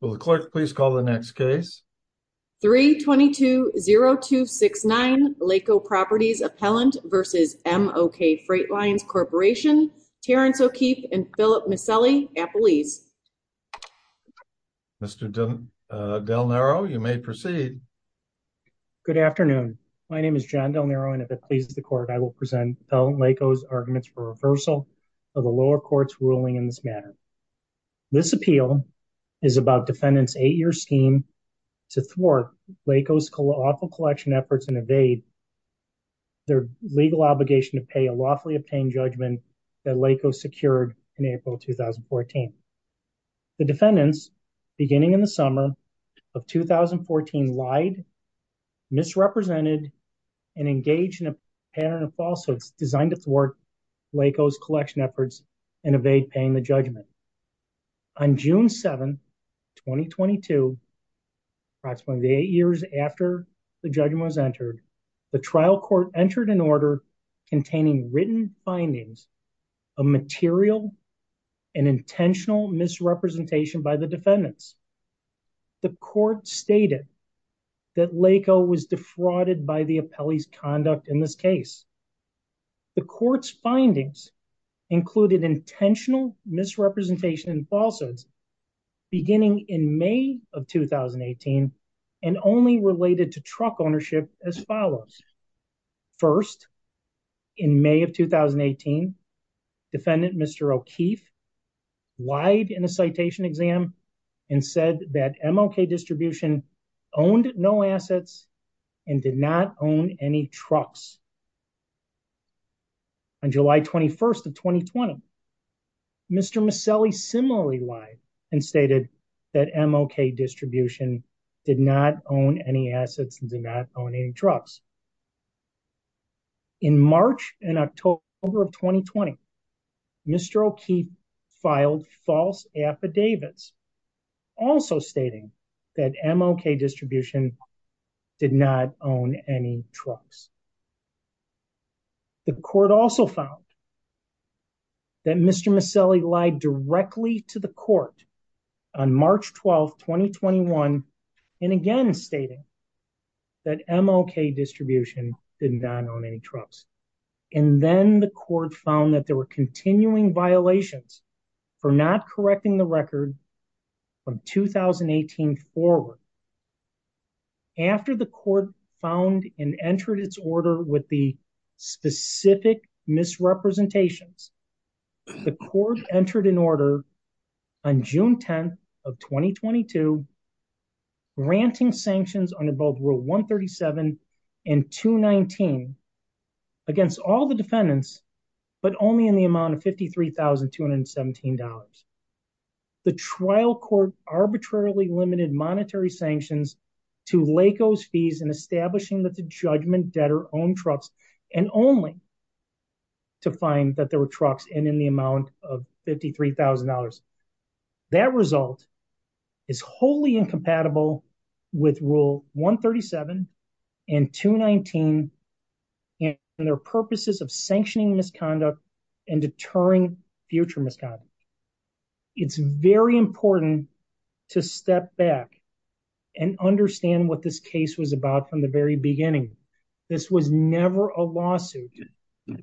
Will the clerk please call the next case? 320269 Lako Properties Appellant v. M-OK Freight Lines Corporation, Terrence O'Keefe, and Philip Micelli, Appalese. Mr. Del Naro, you may proceed. Good afternoon. My name is John Del Naro, and if it pleases the court, I will present Appellant Lako's arguments for reversal of the lower court's ruling in this matter. This appeal is about defendant's eight-year scheme to thwart Lako's awful collection efforts and evade their legal obligation to pay a lawfully obtained judgment that Lako secured in April 2014. The defendants, beginning in the summer of 2014, lied, misrepresented, and engaged in a pattern of falsehoods designed to thwart Lako's collection efforts and evade paying the judgment. On June 7, 2022, approximately eight years after the judgment was entered, the trial court entered an order containing written findings of material and intentional misrepresentation by the defendants. The court stated that Lako was defrauded by the appellee's conduct in this case. The court's findings included intentional misrepresentation and falsehoods beginning in May of 2018 and only related to truck ownership as follows. First, in May of 2018, defendant Mr. O'Keefe lied in a citation exam and said that MLK Distribution owned no assets and did not own any trucks. On July 21, 2020, Mr. Maselli similarly lied and stated that MLK Distribution did not own any assets and did not own any trucks. In March and October of 2020, Mr. O'Keefe filed false affidavits also stating that MLK Distribution did not own any trucks. The court also found that Mr. Maselli lied directly to the court on March 12, 2021, and again stating that MLK Distribution did not own any trucks. And then the court found that there were continuing violations for not correcting the record from 2018 forward. After the court found and entered its order with the specific misrepresentations, the court entered an order on June 10, 2022, granting sanctions under both Rule 137 and 219 against all the defendants, but only in the amount of $53,217. The trial court arbitrarily limited monetary sanctions to LACO's fees in establishing that the judgment debtor owned trucks and only to find that there were trucks in the amount of $53,000. That result is wholly incompatible with Rule 137 and 219 in their purposes of sanctioning misconduct and deterring future misconduct. It's very important to step back and understand what this case was about from the very beginning. This was never a lawsuit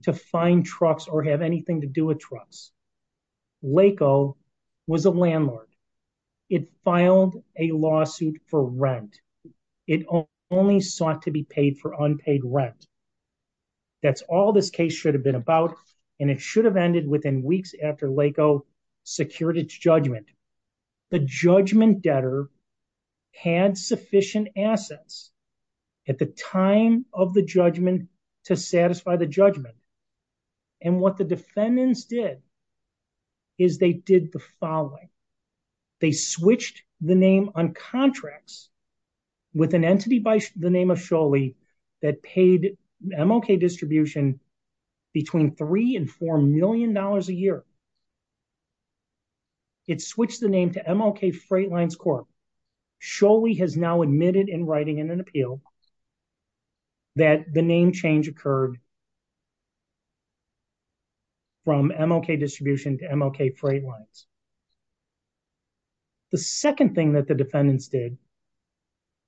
to find trucks or have anything to do with trucks. LACO was a landlord. It filed a lawsuit for rent. It only sought to be paid for unpaid rent. That's all this case should have been about, and it should have ended within weeks after LACO secured its judgment. The judgment debtor had sufficient assets at the time of the judgment to satisfy the judgment. And what the defendants did is they did the following. They switched the name on contracts with an entity by the name of Sholey that paid MLK Distribution between $3 and $4 million a year. It switched the name to MLK Freight Lines Corp. Sholey has now admitted in writing in an appeal that the name change occurred from MLK Distribution to MLK Freight Lines. The second thing that the defendants did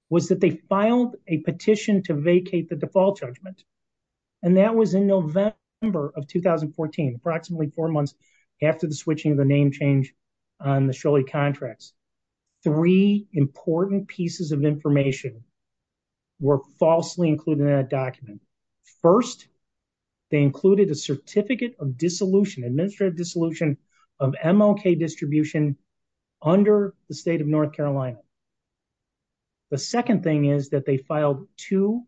was that they filed a petition to vacate the default judgment. And that was in November of 2014, approximately four months after the switching of the name change on the Sholey contracts. Three important pieces of information were falsely included in that document. First, they included a certificate of dissolution, administrative dissolution of MLK Distribution under the state of North Carolina. The second thing is that they filed two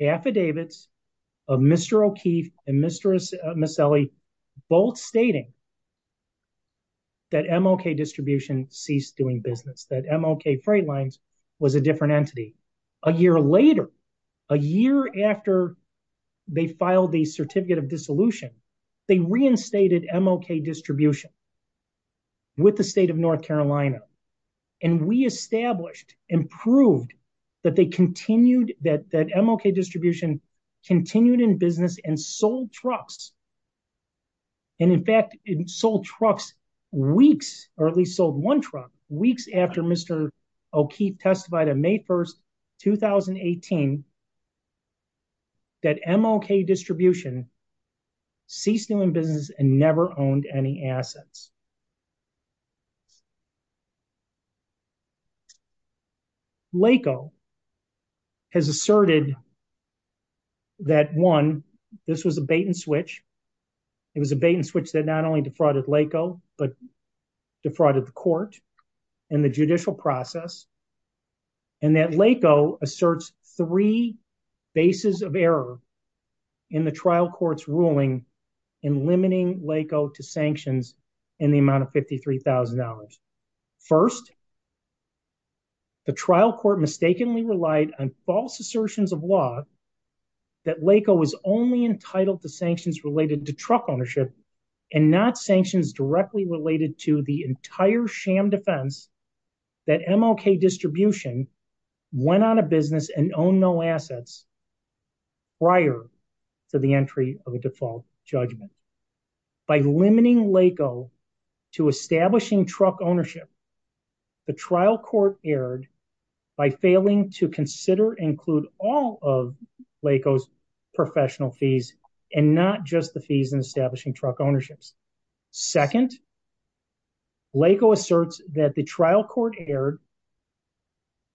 affidavits of Mr. O'Keefe and Ms. Selle both stating that MLK Distribution ceased doing business, that MLK Freight Lines was a different entity. A year later, a year after they filed the certificate of dissolution, they reinstated MLK Distribution with the state of North Carolina. And we established and proved that MLK Distribution continued in business and sold trucks. And in fact, it sold trucks weeks, or at least sold one truck, weeks after Mr. O'Keefe testified on May 1st, 2018, that MLK Distribution ceased doing business and never owned any assets. LACO has asserted that, one, this was a bait-and-switch. It was a bait-and-switch that not only defrauded LACO, but defrauded the court and the judicial process. And that LACO asserts three bases of error in the trial court's ruling in limiting LACO to sanctions, in the amount of $53,000. First, the trial court mistakenly relied on false assertions of law that LACO was only entitled to sanctions related to truck ownership, and not sanctions directly related to the entire sham defense that MLK Distribution went out of business and owned no assets prior to the entry of a default judgment. Second, by limiting LACO to establishing truck ownership, the trial court erred by failing to consider and include all of LACO's professional fees, and not just the fees in establishing truck ownerships. Second, LACO asserts that the trial court erred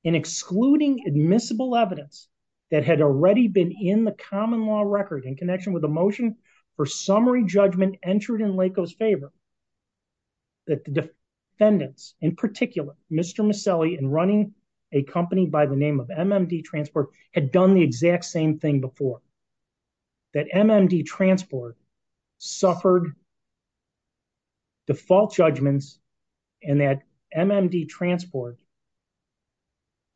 in excluding admissible evidence that had already been in the common law record in connection with a motion for summary judgment entered in LACO's favor. That the defendants, in particular, Mr. Maselli and running a company by the name of MMD Transport, had done the exact same thing before. That MMD Transport suffered default judgments, and that MMD Transport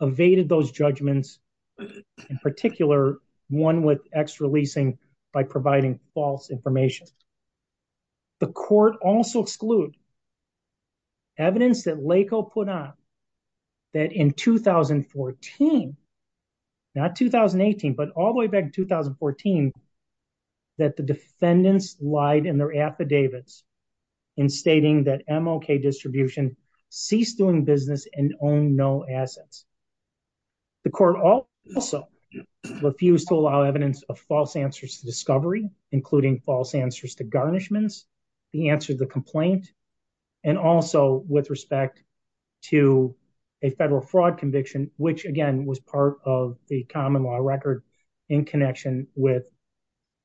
evaded those judgments, in particular, one with extra leasing by providing false information. The court also excluded evidence that LACO put out that in 2014, not 2018, but all the way back to 2014, that the defendants lied in their affidavits in stating that MLK Distribution ceased doing business and owned no assets. The court also refused to allow evidence of false answers to discovery, including false answers to garnishments, the answer to the complaint, and also with respect to a federal fraud conviction, which, again, was part of the common law record in connection with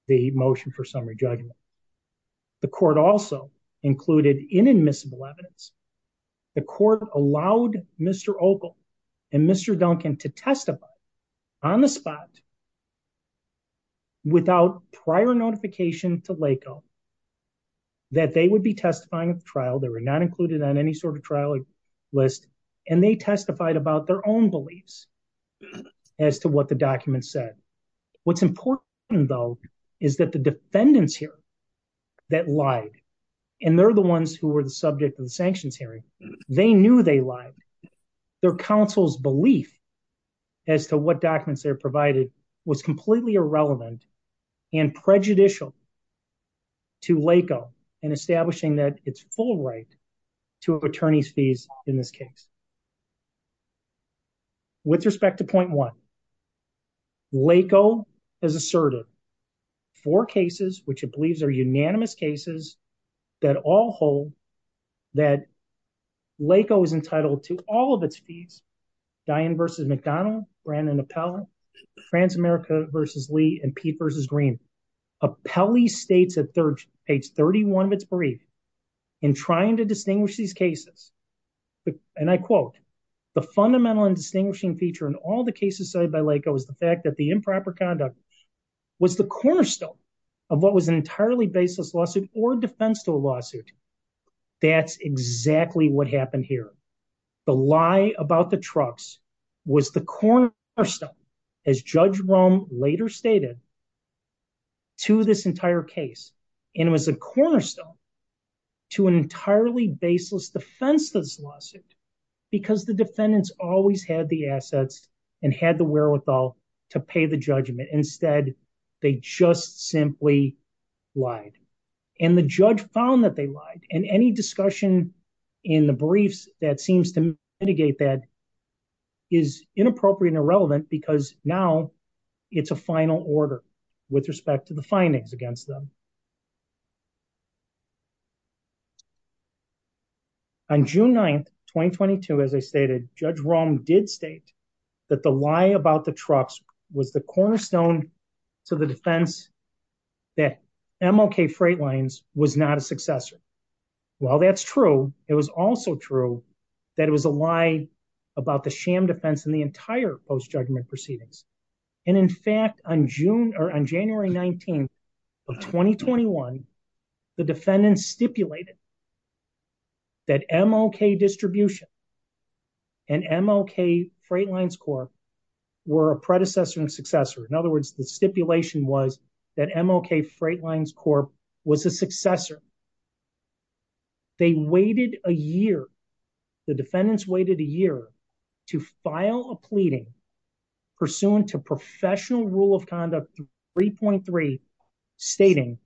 the motion for summary judgment. The court also included inadmissible evidence. The court allowed Mr. Opal and Mr. Duncan to testify on the spot, without prior notification to LACO, that they would be testifying at the trial. They were not included on any sort of trial list, and they testified about their own beliefs as to what the document said. What's important, though, is that the defendants here that lied, and they're the ones who were the subject of the sanctions hearing, they knew they lied. Their counsel's belief as to what documents they provided was completely irrelevant and prejudicial to LACO in establishing that it's full right to attorney's fees in this case. With respect to point one, LACO has asserted four cases, which it believes are unanimous cases, that all hold that LACO is entitled to all of its fees, Diane v. McDonald, Brandon Appell, France America v. Lee, and Pete v. Green. Appellee states at page 31 of its brief, in trying to distinguish these cases, and I quote, the fundamental and distinguishing feature in all the cases cited by LACO is the fact that the improper conduct was the cornerstone of what was an entirely baseless lawsuit or defense to a lawsuit. That's exactly what happened here. The lie about the trucks was the cornerstone, as Judge Rome later stated, to this entire case. And it was a cornerstone to an entirely baseless defense of this lawsuit, because the defendants always had the assets and had the wherewithal to pay the judgment. Instead, they just simply lied. And the judge found that they lied. And any discussion in the briefs that seems to mitigate that is inappropriate and irrelevant, because now it's a final order with respect to the findings against them. On June 9th, 2022, as I stated, Judge Rome did state that the lie about the trucks was the cornerstone to the defense that MLK Freight Lines was not a successor. While that's true, it was also true that it was a lie about the sham defense in the entire post-judgment proceedings. And in fact, on January 19th of 2021, the defendants stipulated that MLK Distribution and MLK Freight Lines Corp were a predecessor and successor. In other words, the stipulation was that MLK Freight Lines Corp was a successor they waited a year, the defendants waited a year to file a pleading pursuant to Professional Rule of Conduct 3.3 stating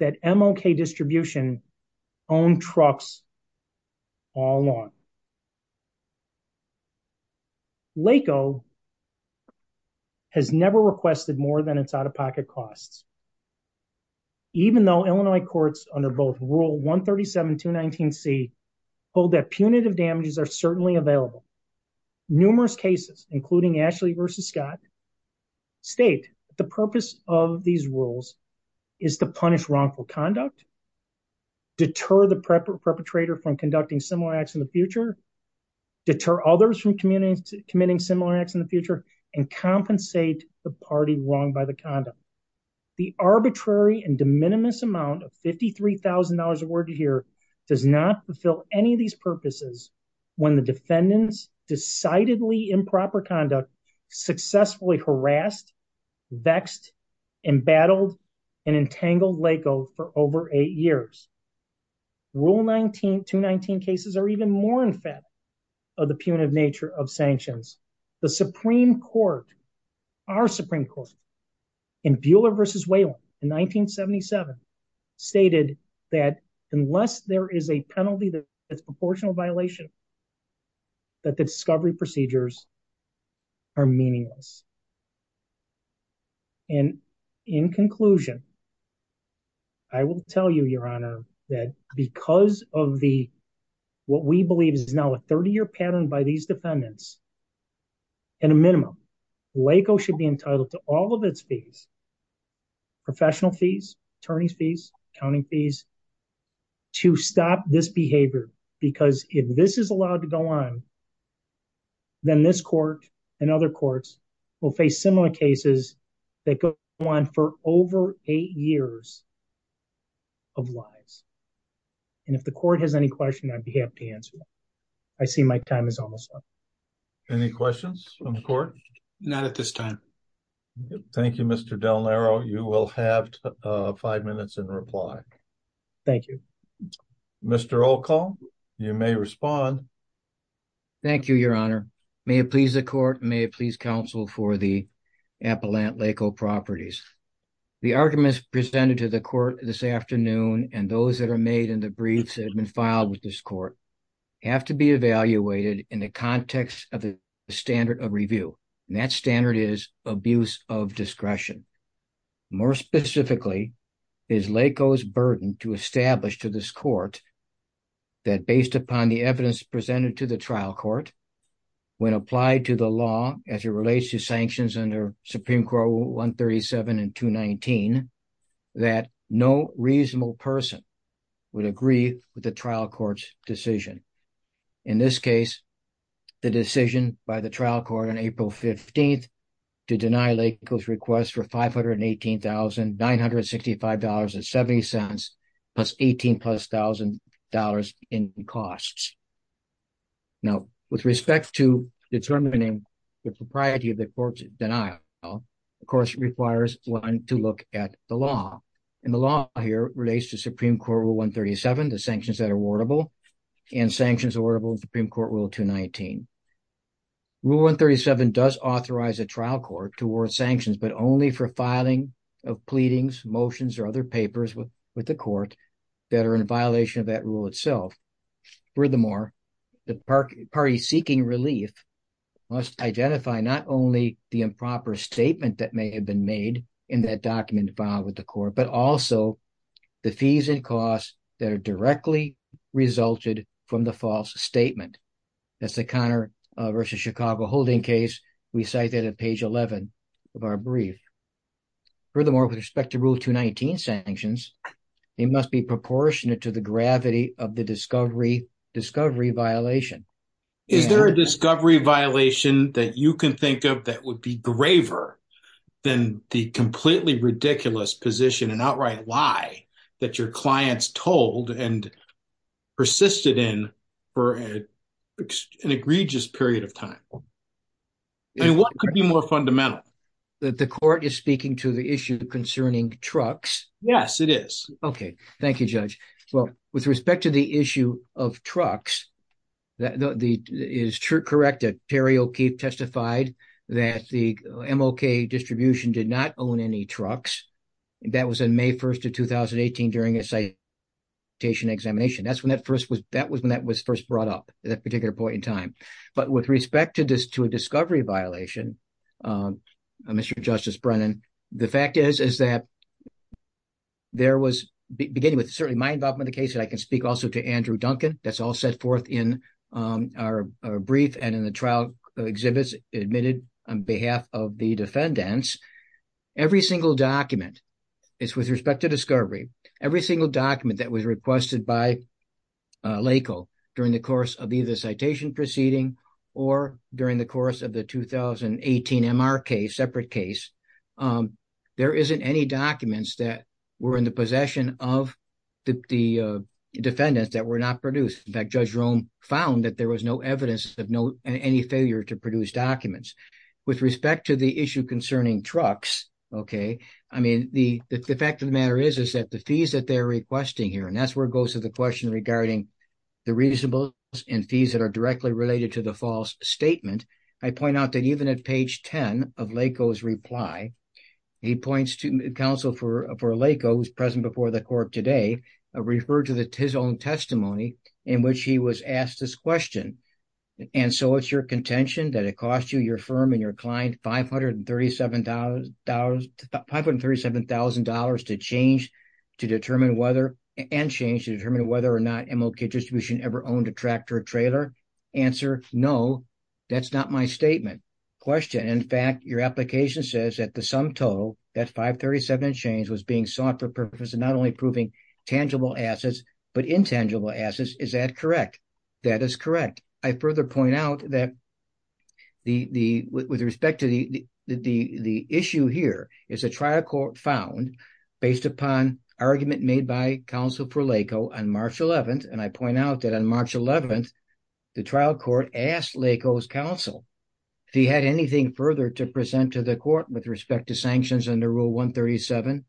that MLK Distribution owned trucks all along. LACO has never requested more than its out-of-pocket costs. Even though Illinois courts under both Rule 137, 219C hold that punitive damages are certainly available, numerous cases, including Ashley v. Scott, state that the purpose of these rules is to punish wrongful conduct, deter the perpetrator from conducting similar acts in the future, deter others from committing similar acts in the future, and compensate the party wronged by the conduct. The arbitrary and de minimis amount of $53,000 awarded here does not fulfill any of these purposes when the defendants' decidedly improper conduct successfully harassed, vexed, embattled, and entangled LACO for over eight years. Rule 219 cases are even more infatigable of the punitive nature of sanctions. The Supreme Court, our Supreme Court, in Buehler v. Whalen in 1977, stated that unless there is a penalty that's a proportional violation, that the discovery procedures are meaningless. And in conclusion, I will tell you, Your Honor, that because of the, what we believe is now a 30-year pattern by these defendants, at a minimum, LACO should be entitled to all of its fees, professional fees, attorney's fees, accounting fees, to stop this behavior. Because if this is allowed to go on, then this Court, and other courts, will face similar cases that go on for over eight years of lives. And if the Court has any questions, I'd be happy to answer them. I see my time is almost up. Any questions from the Court? Not at this time. Thank you, Mr. Del Naro. You will have five minutes in reply. Thank you. Mr. Olcol, you may respond. Thank you, Your Honor. May it please the Court, may it please counsel for the Appalachian LACO properties. The arguments presented to the Court this afternoon and those that are made in the briefs that have been filed with this Court have to be evaluated in the context of the standard of review. And that standard is abuse of discretion. More specifically, it is LACO's burden to establish to this Court that based upon the evidence presented to the trial court when applied to the law as it relates to sanctions under Supreme Court 137 and 219 that no reasonable person would agree to make a decision. In this case, the decision by the trial court on April 15th to deny LACO's request for $518,965.70 plus $18,000 in costs. Now, with respect to determining the propriety of the Court's denial, the Court requires one to look at the law. And the law here relates to Supreme Court Rule 137, and sanctions orderable in Supreme Court Rule 219. Rule 137 does authorize a trial court to award sanctions, but only for filing of pleadings, motions, or other papers with the Court that are in violation of that rule itself. Furthermore, the party seeking relief must identify not only the improper statement that may have been made in that document filed with the Court, but also the fees and costs from the false statement. That's the Conner v. Chicago holding case we cited at page 11 of our brief. Furthermore, with respect to Rule 219 sanctions, they must be proportionate to the gravity of the discovery violation. Is there a discovery violation that you can think of that would be graver than the completely ridiculous position and outright lie that your clients told and persisted in for an egregious period of time? And what could be more fundamental? That the Court is speaking to the issue concerning trucks? Yes, it is. Okay. Thank you, Judge. With respect to the issue of trucks, is it correct that Terry O'Keefe testified that the MLK distribution did not own any trucks? That was on May 1st of 2018 during a citation examination. That was when that first brought up, at that particular point in time. But with respect to a discovery violation, Mr. Justice Brennan, the fact is that there was, beginning with certainly my involvement in the case, and I can speak also to Andrew Duncan, that's all set forth in our brief and in the trial exhibits admitted on behalf of the defendants, every single document, with respect to discovery, every single document that was requested by LACL during the course of either the citation proceeding or during the course of the 2018 MR case, separate case, there isn't any documents that were in the possession of the defendants that were not produced. In fact, Judge Rome found that there was no evidence of any failure to produce documents. With respect to the issue concerning trucks, the fact of the matter is that the fees that they're requesting here, and that's where it goes to the question of symbols and fees that are directly related to the false statement, I point out that even at page 10 of LACO's reply, he points to counsel for LACO who's present before the court today, referred to his own testimony in which he was asked this question, and so it's your contention that it cost you, your firm and your client $537,000 to change to determine whether, and change to determine whether to retract or trailer? Answer, no, that's not my statement. Question, in fact, your application says that the sum total, that $537,000 change was being sought for purpose of not only proving tangible assets, but intangible assets. Is that correct? That is correct. I further point out that with respect to the issue here, it's a trial court found on November 11th, the trial court asked LACO's counsel if he had anything further to present to the court with respect to sanctions under Rule 137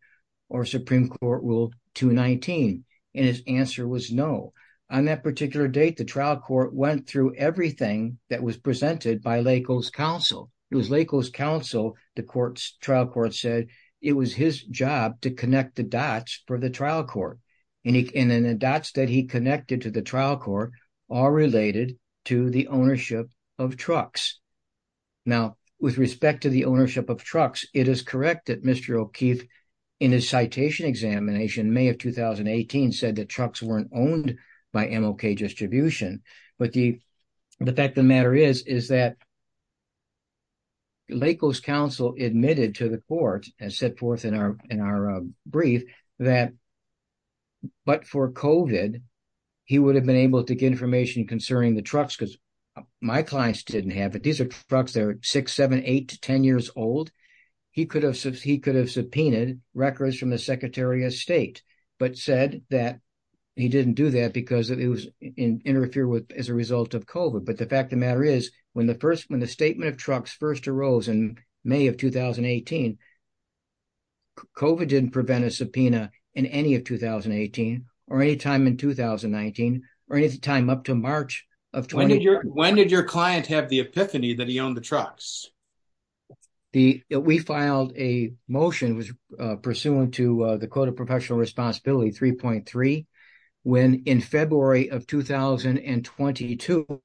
or Supreme Court Rule 219, and his answer was no. On that particular date, the trial court went through everything that was presented by LACO's counsel. It was LACO's counsel, the trial court said, it was his job to connect all related to the ownership of trucks. Now, with respect to the ownership of trucks, it is correct that Mr. O'Keefe in his citation examination in May of 2018, said that trucks weren't owned by MLK Distribution, but the fact of the matter is, is that LACO's counsel admitted to the court and set forth in our brief that, but for COVID, in his citation concerning the trucks, because my clients didn't have it, these are trucks that are 6, 7, 8 to 10 years old, he could have subpoenaed records from the Secretary of State, but said that he didn't do that because it was interfered with as a result of COVID, but the fact of the matter is, when the statement of trucks first arose in May of 2018, COVID didn't prevent a subpoena in any of 2018 or any time in 2019 until March of 2018. When did your client have the epiphany that he owned the trucks? We filed a motion pursuant to the Code of Professional Responsibility 3.3, when in February of 2022,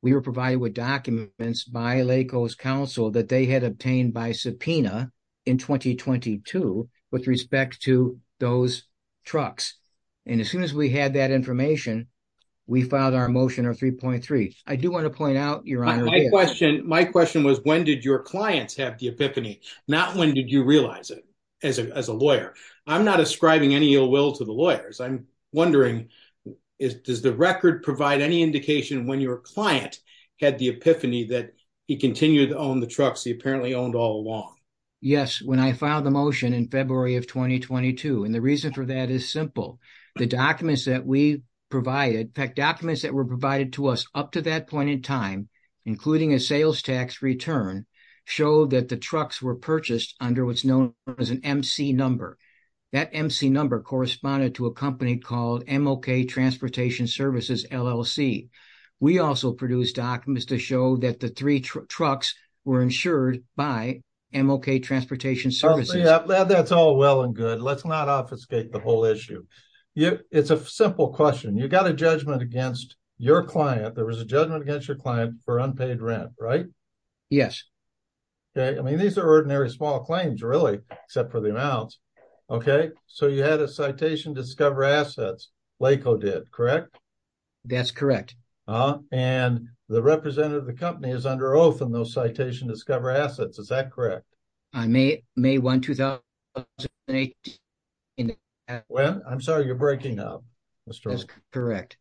we were provided with documents by LACO's counsel that they had obtained by subpoena in 2022 with respect to those trucks, and as soon as we had that information, we filed our motion on 3.3. I do want to point out, Your Honor, My question was when did your clients have the epiphany, not when did you realize it as a lawyer. I'm not ascribing any ill will to the lawyers. I'm wondering, does the record provide any indication when your client had the epiphany that he continued to own the trucks he apparently owned all along? Yes, when I filed the motion in February of 2022, and the reason for that is simple. The documents that were provided to us up to that point in time, including a sales tax return, showed that the trucks were purchased under what's known as an MC number. That MC number corresponded to a company called MLK Transportation Services LLC. We also produced documents to show that the three trucks were insured by MLK Transportation Services. That's all well and good. Let's not obfuscate the whole issue. It's a simple question. There was a judgment against your client for unpaid rent, right? Yes. These are ordinary small claims, except for the amounts. You had a citation to discover assets. LACO did, correct? That's correct. The representative of the company is under oath in those citation to discover assets. Is that correct? May 1, 2018. I'm sorry, you're breaking up. That's correct.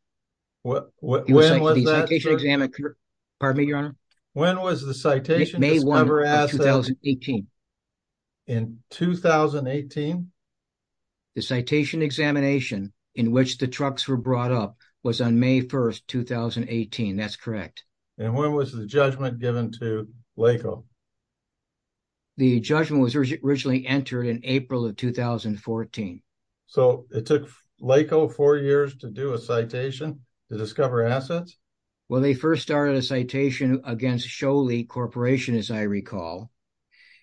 When was that? Pardon me, Your Honor? When was the citation to discover assets? May 1, 2018. In 2018? The citation examination in which the trucks were brought up was on May 1, 2018. That's correct. When was the judgment given to LACO? in April of 2014. It took LACO four years to do a citation to discover assets? Well, they first started a citation against Sholey Corporation, as I recall.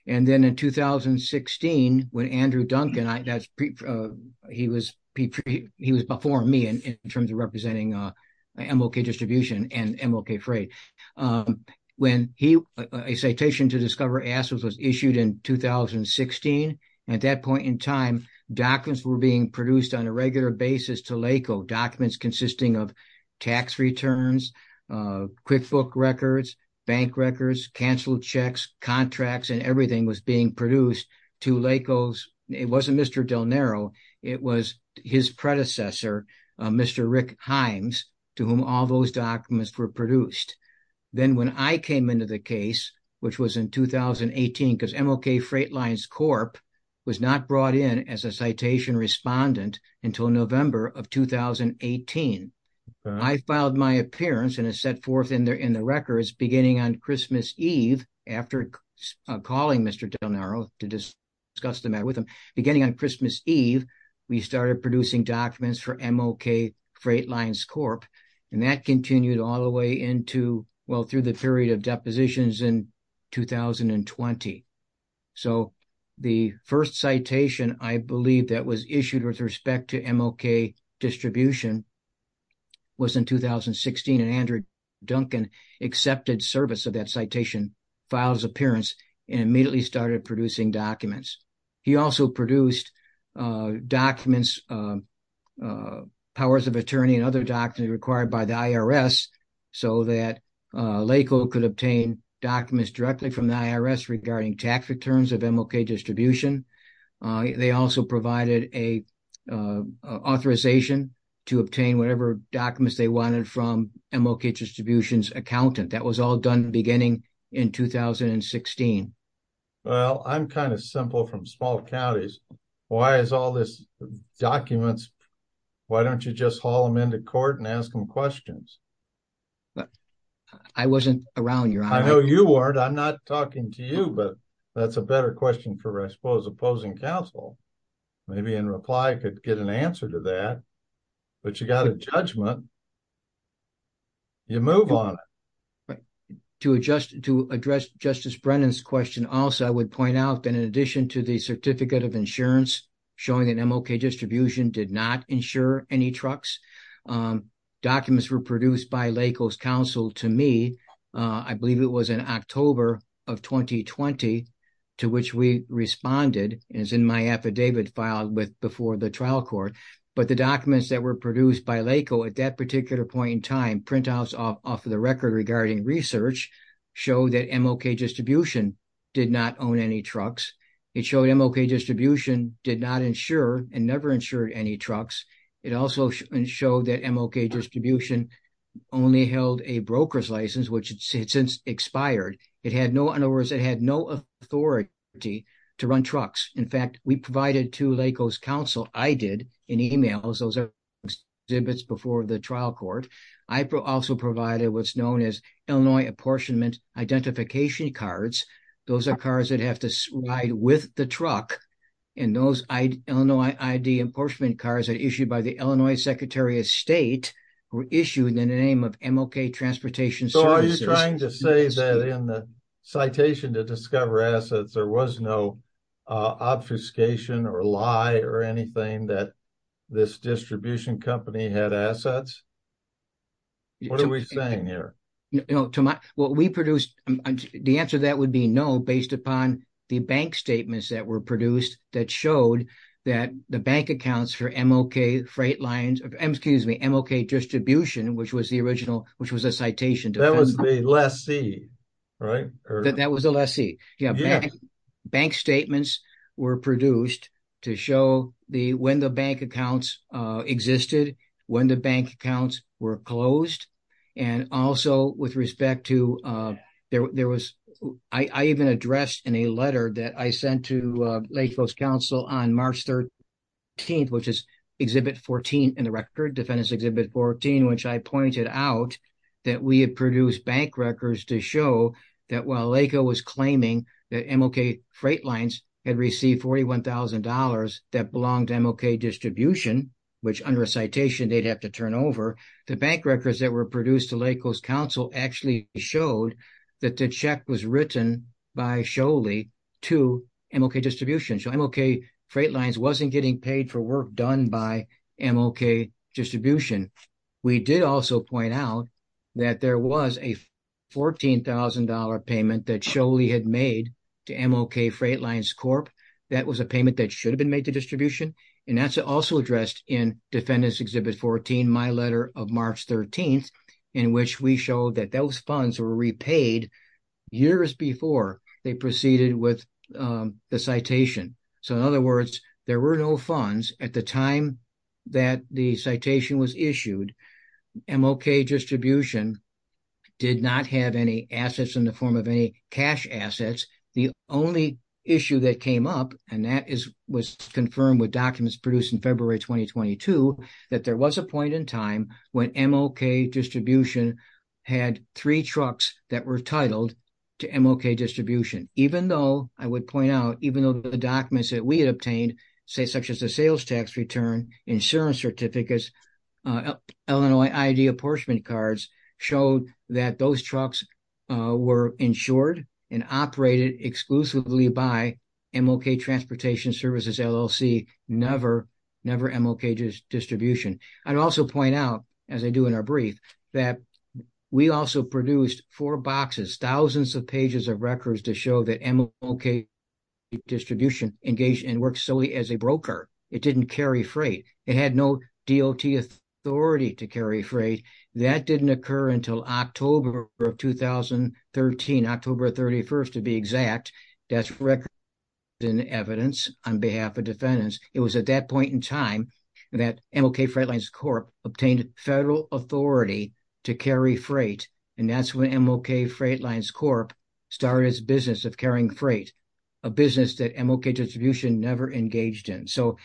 And then in 2016, when Andrew Duncan, he was before me in terms of representing MLK Distribution and MLK Freight. When a citation to discover assets at that point in time, documents were being produced on a regular basis to LACO, documents consisting of tax returns, QuickBook records, bank records, canceled checks, contracts, and everything was being produced to LACO's, it wasn't Mr. Del Nero, it was his predecessor, Mr. Rick Himes, to whom all those documents were produced. Then when I came into the case, which was in 2018, I filed my appearance and it set forth in the records beginning on Christmas Eve, after calling Mr. Del Nero to discuss the matter with him, beginning on Christmas Eve, we started producing documents for MLK Freight Lines Corp. And that continued all the way into, well, through the period of depositions in 2020. So the first citation, I believe that was issued with respect to MLK Distribution was in 2016 and Andrew Duncan accepted service of that citation, filed his appearance, and immediately started producing documents. He also produced documents, powers of attorney and other documents required by the IRS so that LACO could obtain documents directly from the IRS regarding tax returns of MLK Distribution. They also provided an authorization to obtain whatever documents they wanted from MLK Distribution's accountant. That was all done beginning in 2016. Well, I'm kind of simple from small counties. Why is all this, documents, why don't you just haul them into court and ask them questions? I wasn't around your time. I know you weren't. I'm not talking to you, but that's a better question for I suppose opposing counsel. But you got a judgment. You move on. Right. To address Justice Brennan's question also, I would point out that in addition to the Certificate of Insurance showing that MLK Distribution did not insure any trucks, documents were produced by LACO's counsel to me. I believe it was in October of 2020 to which we responded as in my affidavit filed before the trial court, documents produced by LACO at that particular point in time printouts off of the record regarding research show that MLK Distribution did not own any trucks. It showed MLK Distribution did not insure and never insured any trucks. It also showed that MLK Distribution only held a broker's license which had since expired. In other words, it had no authority to run trucks. In fact, we provided to LACO's counsel, I did in emails, those are exhibits before the trial court. I also provided what's known as Illinois Apportionment Identification Cards. Those are cars that have to ride with the truck and those Illinois ID Apportionment Cards are issued by the Illinois Secretary of State were issued in the name of MLK Transportation Services. So are you trying to say that in the citation to discover assets there was no obfuscation or lie or anything that this distribution company had assets? What are we saying here? What we produced, the answer to that would be no based upon the bank statements that were produced that showed that the bank accounts for MLK Distribution which was the original, which was a citation. That was the lessee, right? That was the lessee. Those were produced to show when the bank accounts existed, when the bank accounts were closed and also with respect to, there was, I even addressed in a letter that I sent to LACO's counsel on March 13th, which is exhibit 14 in the record, Defendant's Exhibit 14, which I pointed out that we had produced bank records to show that while LACO was claiming $41,000 that belonged to MLK Distribution, which under a citation they'd have to turn over, the bank records that were produced to LACO's counsel actually showed that the check was written by Scholey to MLK Distribution. So MLK Freight Lines wasn't getting paid for work done by MLK Distribution. We did also point out that there was a $14,000 payment that Scholey had made to MLK Freight Lines Corp and that was a payment that should have been made to distribution. And that's also addressed in Defendant's Exhibit 14, my letter of March 13th, in which we showed that those funds were repaid years before they proceeded with the citation. So in other words, there were no funds at the time that the citation was issued. MLK Distribution did not have any funds at the time and that was confirmed with documents produced in February 2022 that there was a point in time when MLK Distribution had three trucks that were titled to MLK Distribution. Even though, I would point out, even though the documents that we had obtained such as the sales tax return, insurance certificates, Illinois ID apportionment cards and transportation services LLC, never MLK Distribution. I'd also point out, as I do in our brief, that we also produced four boxes, thousands of pages of records to show that MLK Distribution engaged and worked solely as a broker. It didn't carry freight. It had no DOT authority to carry freight. That didn't occur until October of 2013, October 31st to be exact. That's record evidence on behalf of defendants. It was at that point in time that MLK Freight Lines Corp obtained federal authority to carry freight and that's when MLK Freight Lines Corp started its business of carrying freight, a business that MLK Distribution never engaged in. So,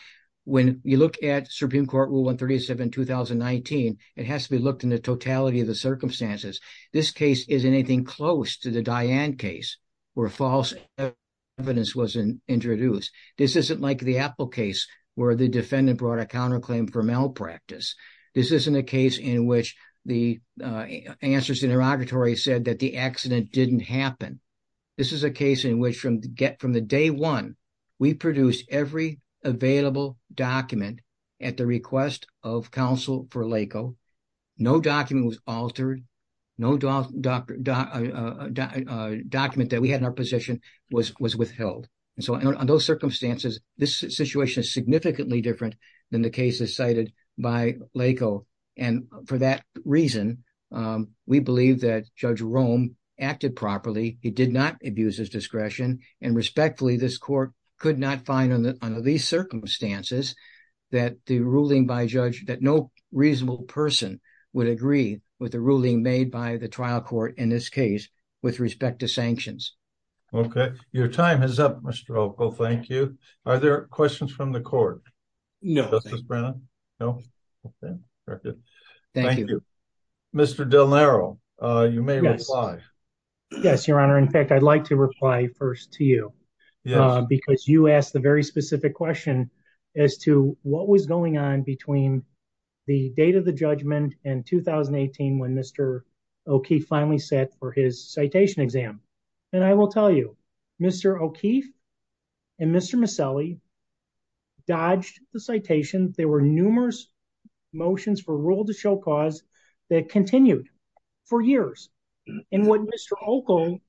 when you look at Supreme Court Rule 137-2019, it has to be looked in the totality of the circumstances. This case isn't anything close to the Diane case where false evidence was introduced. This isn't like the Apple case where the defendant brought a counterclaim for malpractice. This isn't a case in which the answers to the interrogatory said that the accident didn't happen. This is a case in which from the day one, we produced every available document at the request of counsel for LACO. No document was altered. No document that we had in our position was withheld. So, in those circumstances, this situation is significantly different than the cases cited by LACO. And for that reason, we believe that Judge Rome acted properly. He did not abuse his discretion and respectfully, this court could not find under these circumstances that no reasonable person would agree with the ruling made by the trial court in this case with respect to sanctions. Okay. Your time is up, Mr. Opal. Thank you. Are there questions from the court? No. Thank you. Mr. Del Nero, you may reply. Yes, Your Honor. In fact, I'd like to reply first to you because you asked a very specific question as to what was going on between the date of the judgment and when Mr. O'Keefe finally set for his citation exam. And I will tell you, Mr. O'Keefe and Mr. Maselli dodged the citation. There were numerous motions for rule to show cause that continued for years. And what Mr. Opal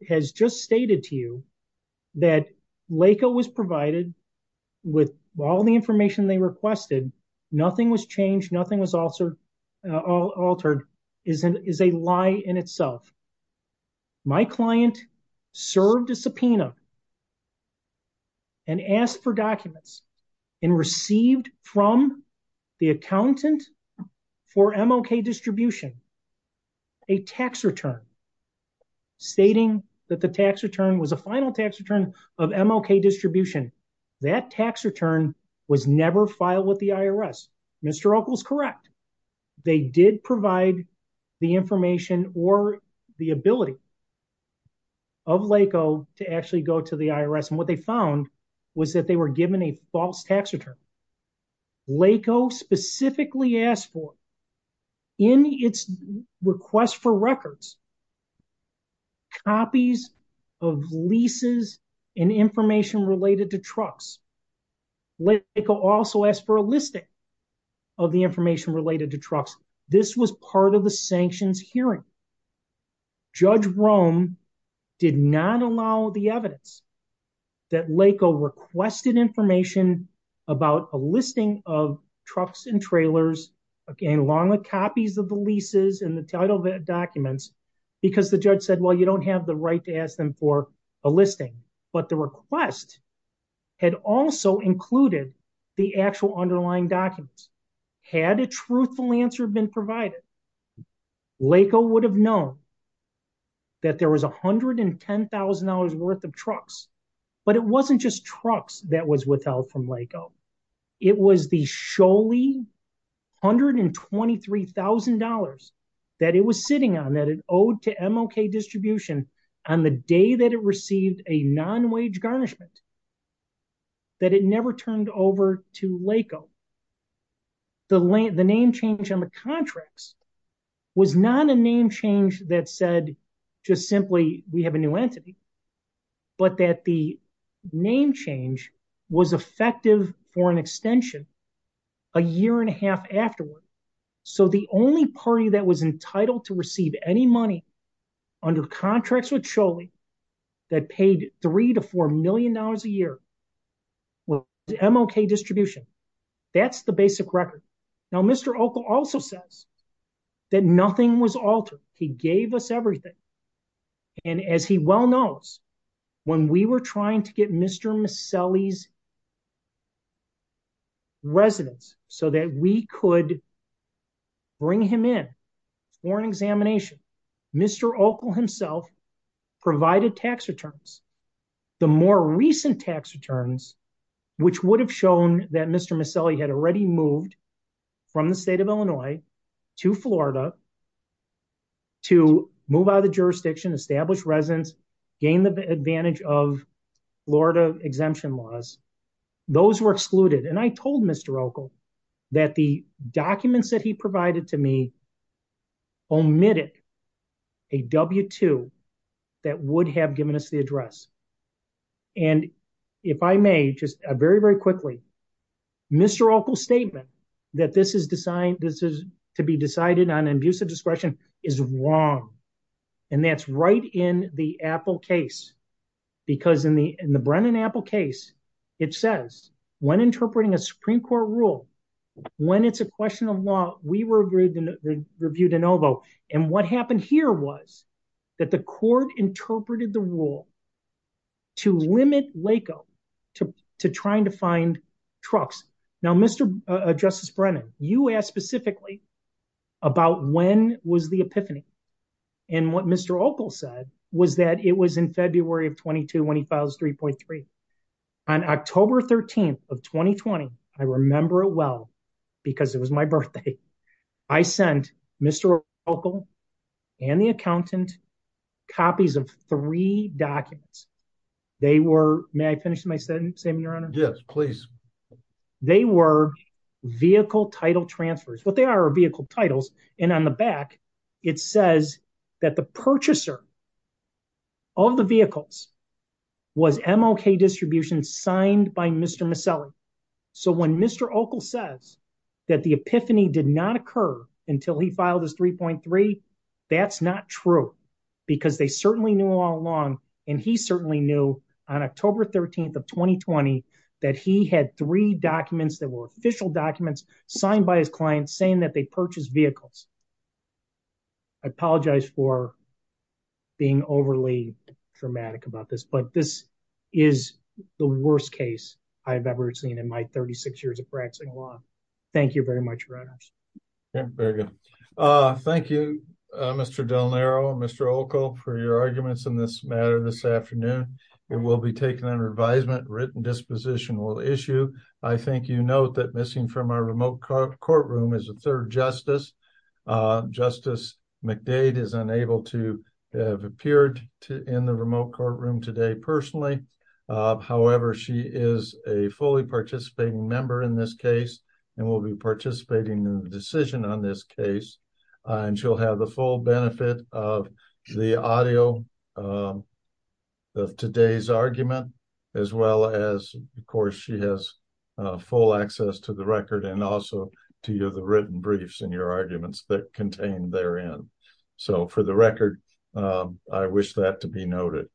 has just stated to you that LACO was provided with all the information they requested, nothing was changed, is a lie in itself. My client served a subpoena and asked for documents and received from the accountant for MLK distribution a tax return stating that the tax return was a final tax return of MLK distribution. That tax return was never filed with the IRS. Mr. Opal is correct. They did provide the information or the ability of LACO to actually go to the IRS. And what they found was that they were given a false tax return. LACO specifically asked for in its request for records copies of leases and information related to trucks. LACO also asked for a listing of the information related to trucks. This was part of the sanctions hearing. Judge Rome did not allow the evidence that LACO requested information about a listing of trucks and trailers along with copies of the leases and the title documents because the judge said, well, you don't have the right to ask them for a listing. But the request had also included the actual underlying documents. Had a truthful answer been provided, LACO would have known that there was $110,000 worth of trucks. But it wasn't just trucks that was withheld from LACO. It was the $123,000 that it was sitting on that it owed to MLK distribution on the day that it received a non-wage garnishment that it never turned over. To LACO. The name change on the contracts was not a name change that said just simply we have a new entity. But that the name change was effective for an extension a year and a half afterward. So the only party that was entitled to receive any money under contracts with CHOLI that paid $3 to $4 million a year was MLK distribution. That's the basic record. Now Mr. Ockel also says that nothing was altered. He gave us everything. And as he well knows when we were trying to get Mr. Maselli's residence so that we could bring him in for an examination Mr. Ockel himself provided tax returns. The more recent tax returns which would have shown that Mr. Maselli had already moved from the state of Illinois to Florida to move out of the jurisdiction establish residence gain the advantage of Florida exemption laws those were excluded. And I told Mr. Ockel that the documents that he provided to me omitted a W-2 that would have given us the address. And if I may just very very quickly Mr. Ockel's statement that this is to be decided on an abuse of discretion is wrong. And that's right in the Apple case. Because in the Brennan-Apple case it says when interpreting a Supreme Court rule when it's a question of law we review de novo and what happened here was the court interpreted the rule to limit LACO to trying to find trucks. Now Mr. Justice Brennan you asked specifically about when was the epiphany and what Mr. Ockel said was that it was in February of 22 when he files 3.3. On October 13th of 2020 I remember it well because it was my birthday I sent Mr. Ockel and the accountant copies of three documents they were may I finish my sentence yes please they were vehicle title transfers what they are are vehicle titles and on the back it says that the purchaser of the vehicles was MLK Distribution signed by Mr. Maselli so when Mr. Ockel says that the epiphany did not occur until he filed this 3.3 that's not true because they certainly knew all along and he certainly knew on October 13th of 2020 that he had three documents that were official documents signed by his client saying that they purchased vehicles I apologize for being overly dramatic about this but this is the worst case I have ever seen in my 36 years of practicing law thank you very much. Thank you for your arguments in this matter this afternoon it will be taken under advisement written disposition will issue I think you note that missing from our remote courtroom is a third justice Justice McDade is unable to have appeared in the remote courtroom today personally however she is a fully participating member in this case and will be participating in the decision on this case as well as a video of today's argument as well as of course she has full access to the record and also to the written briefs and your arguments that contain therein so for the record I wish that to be noted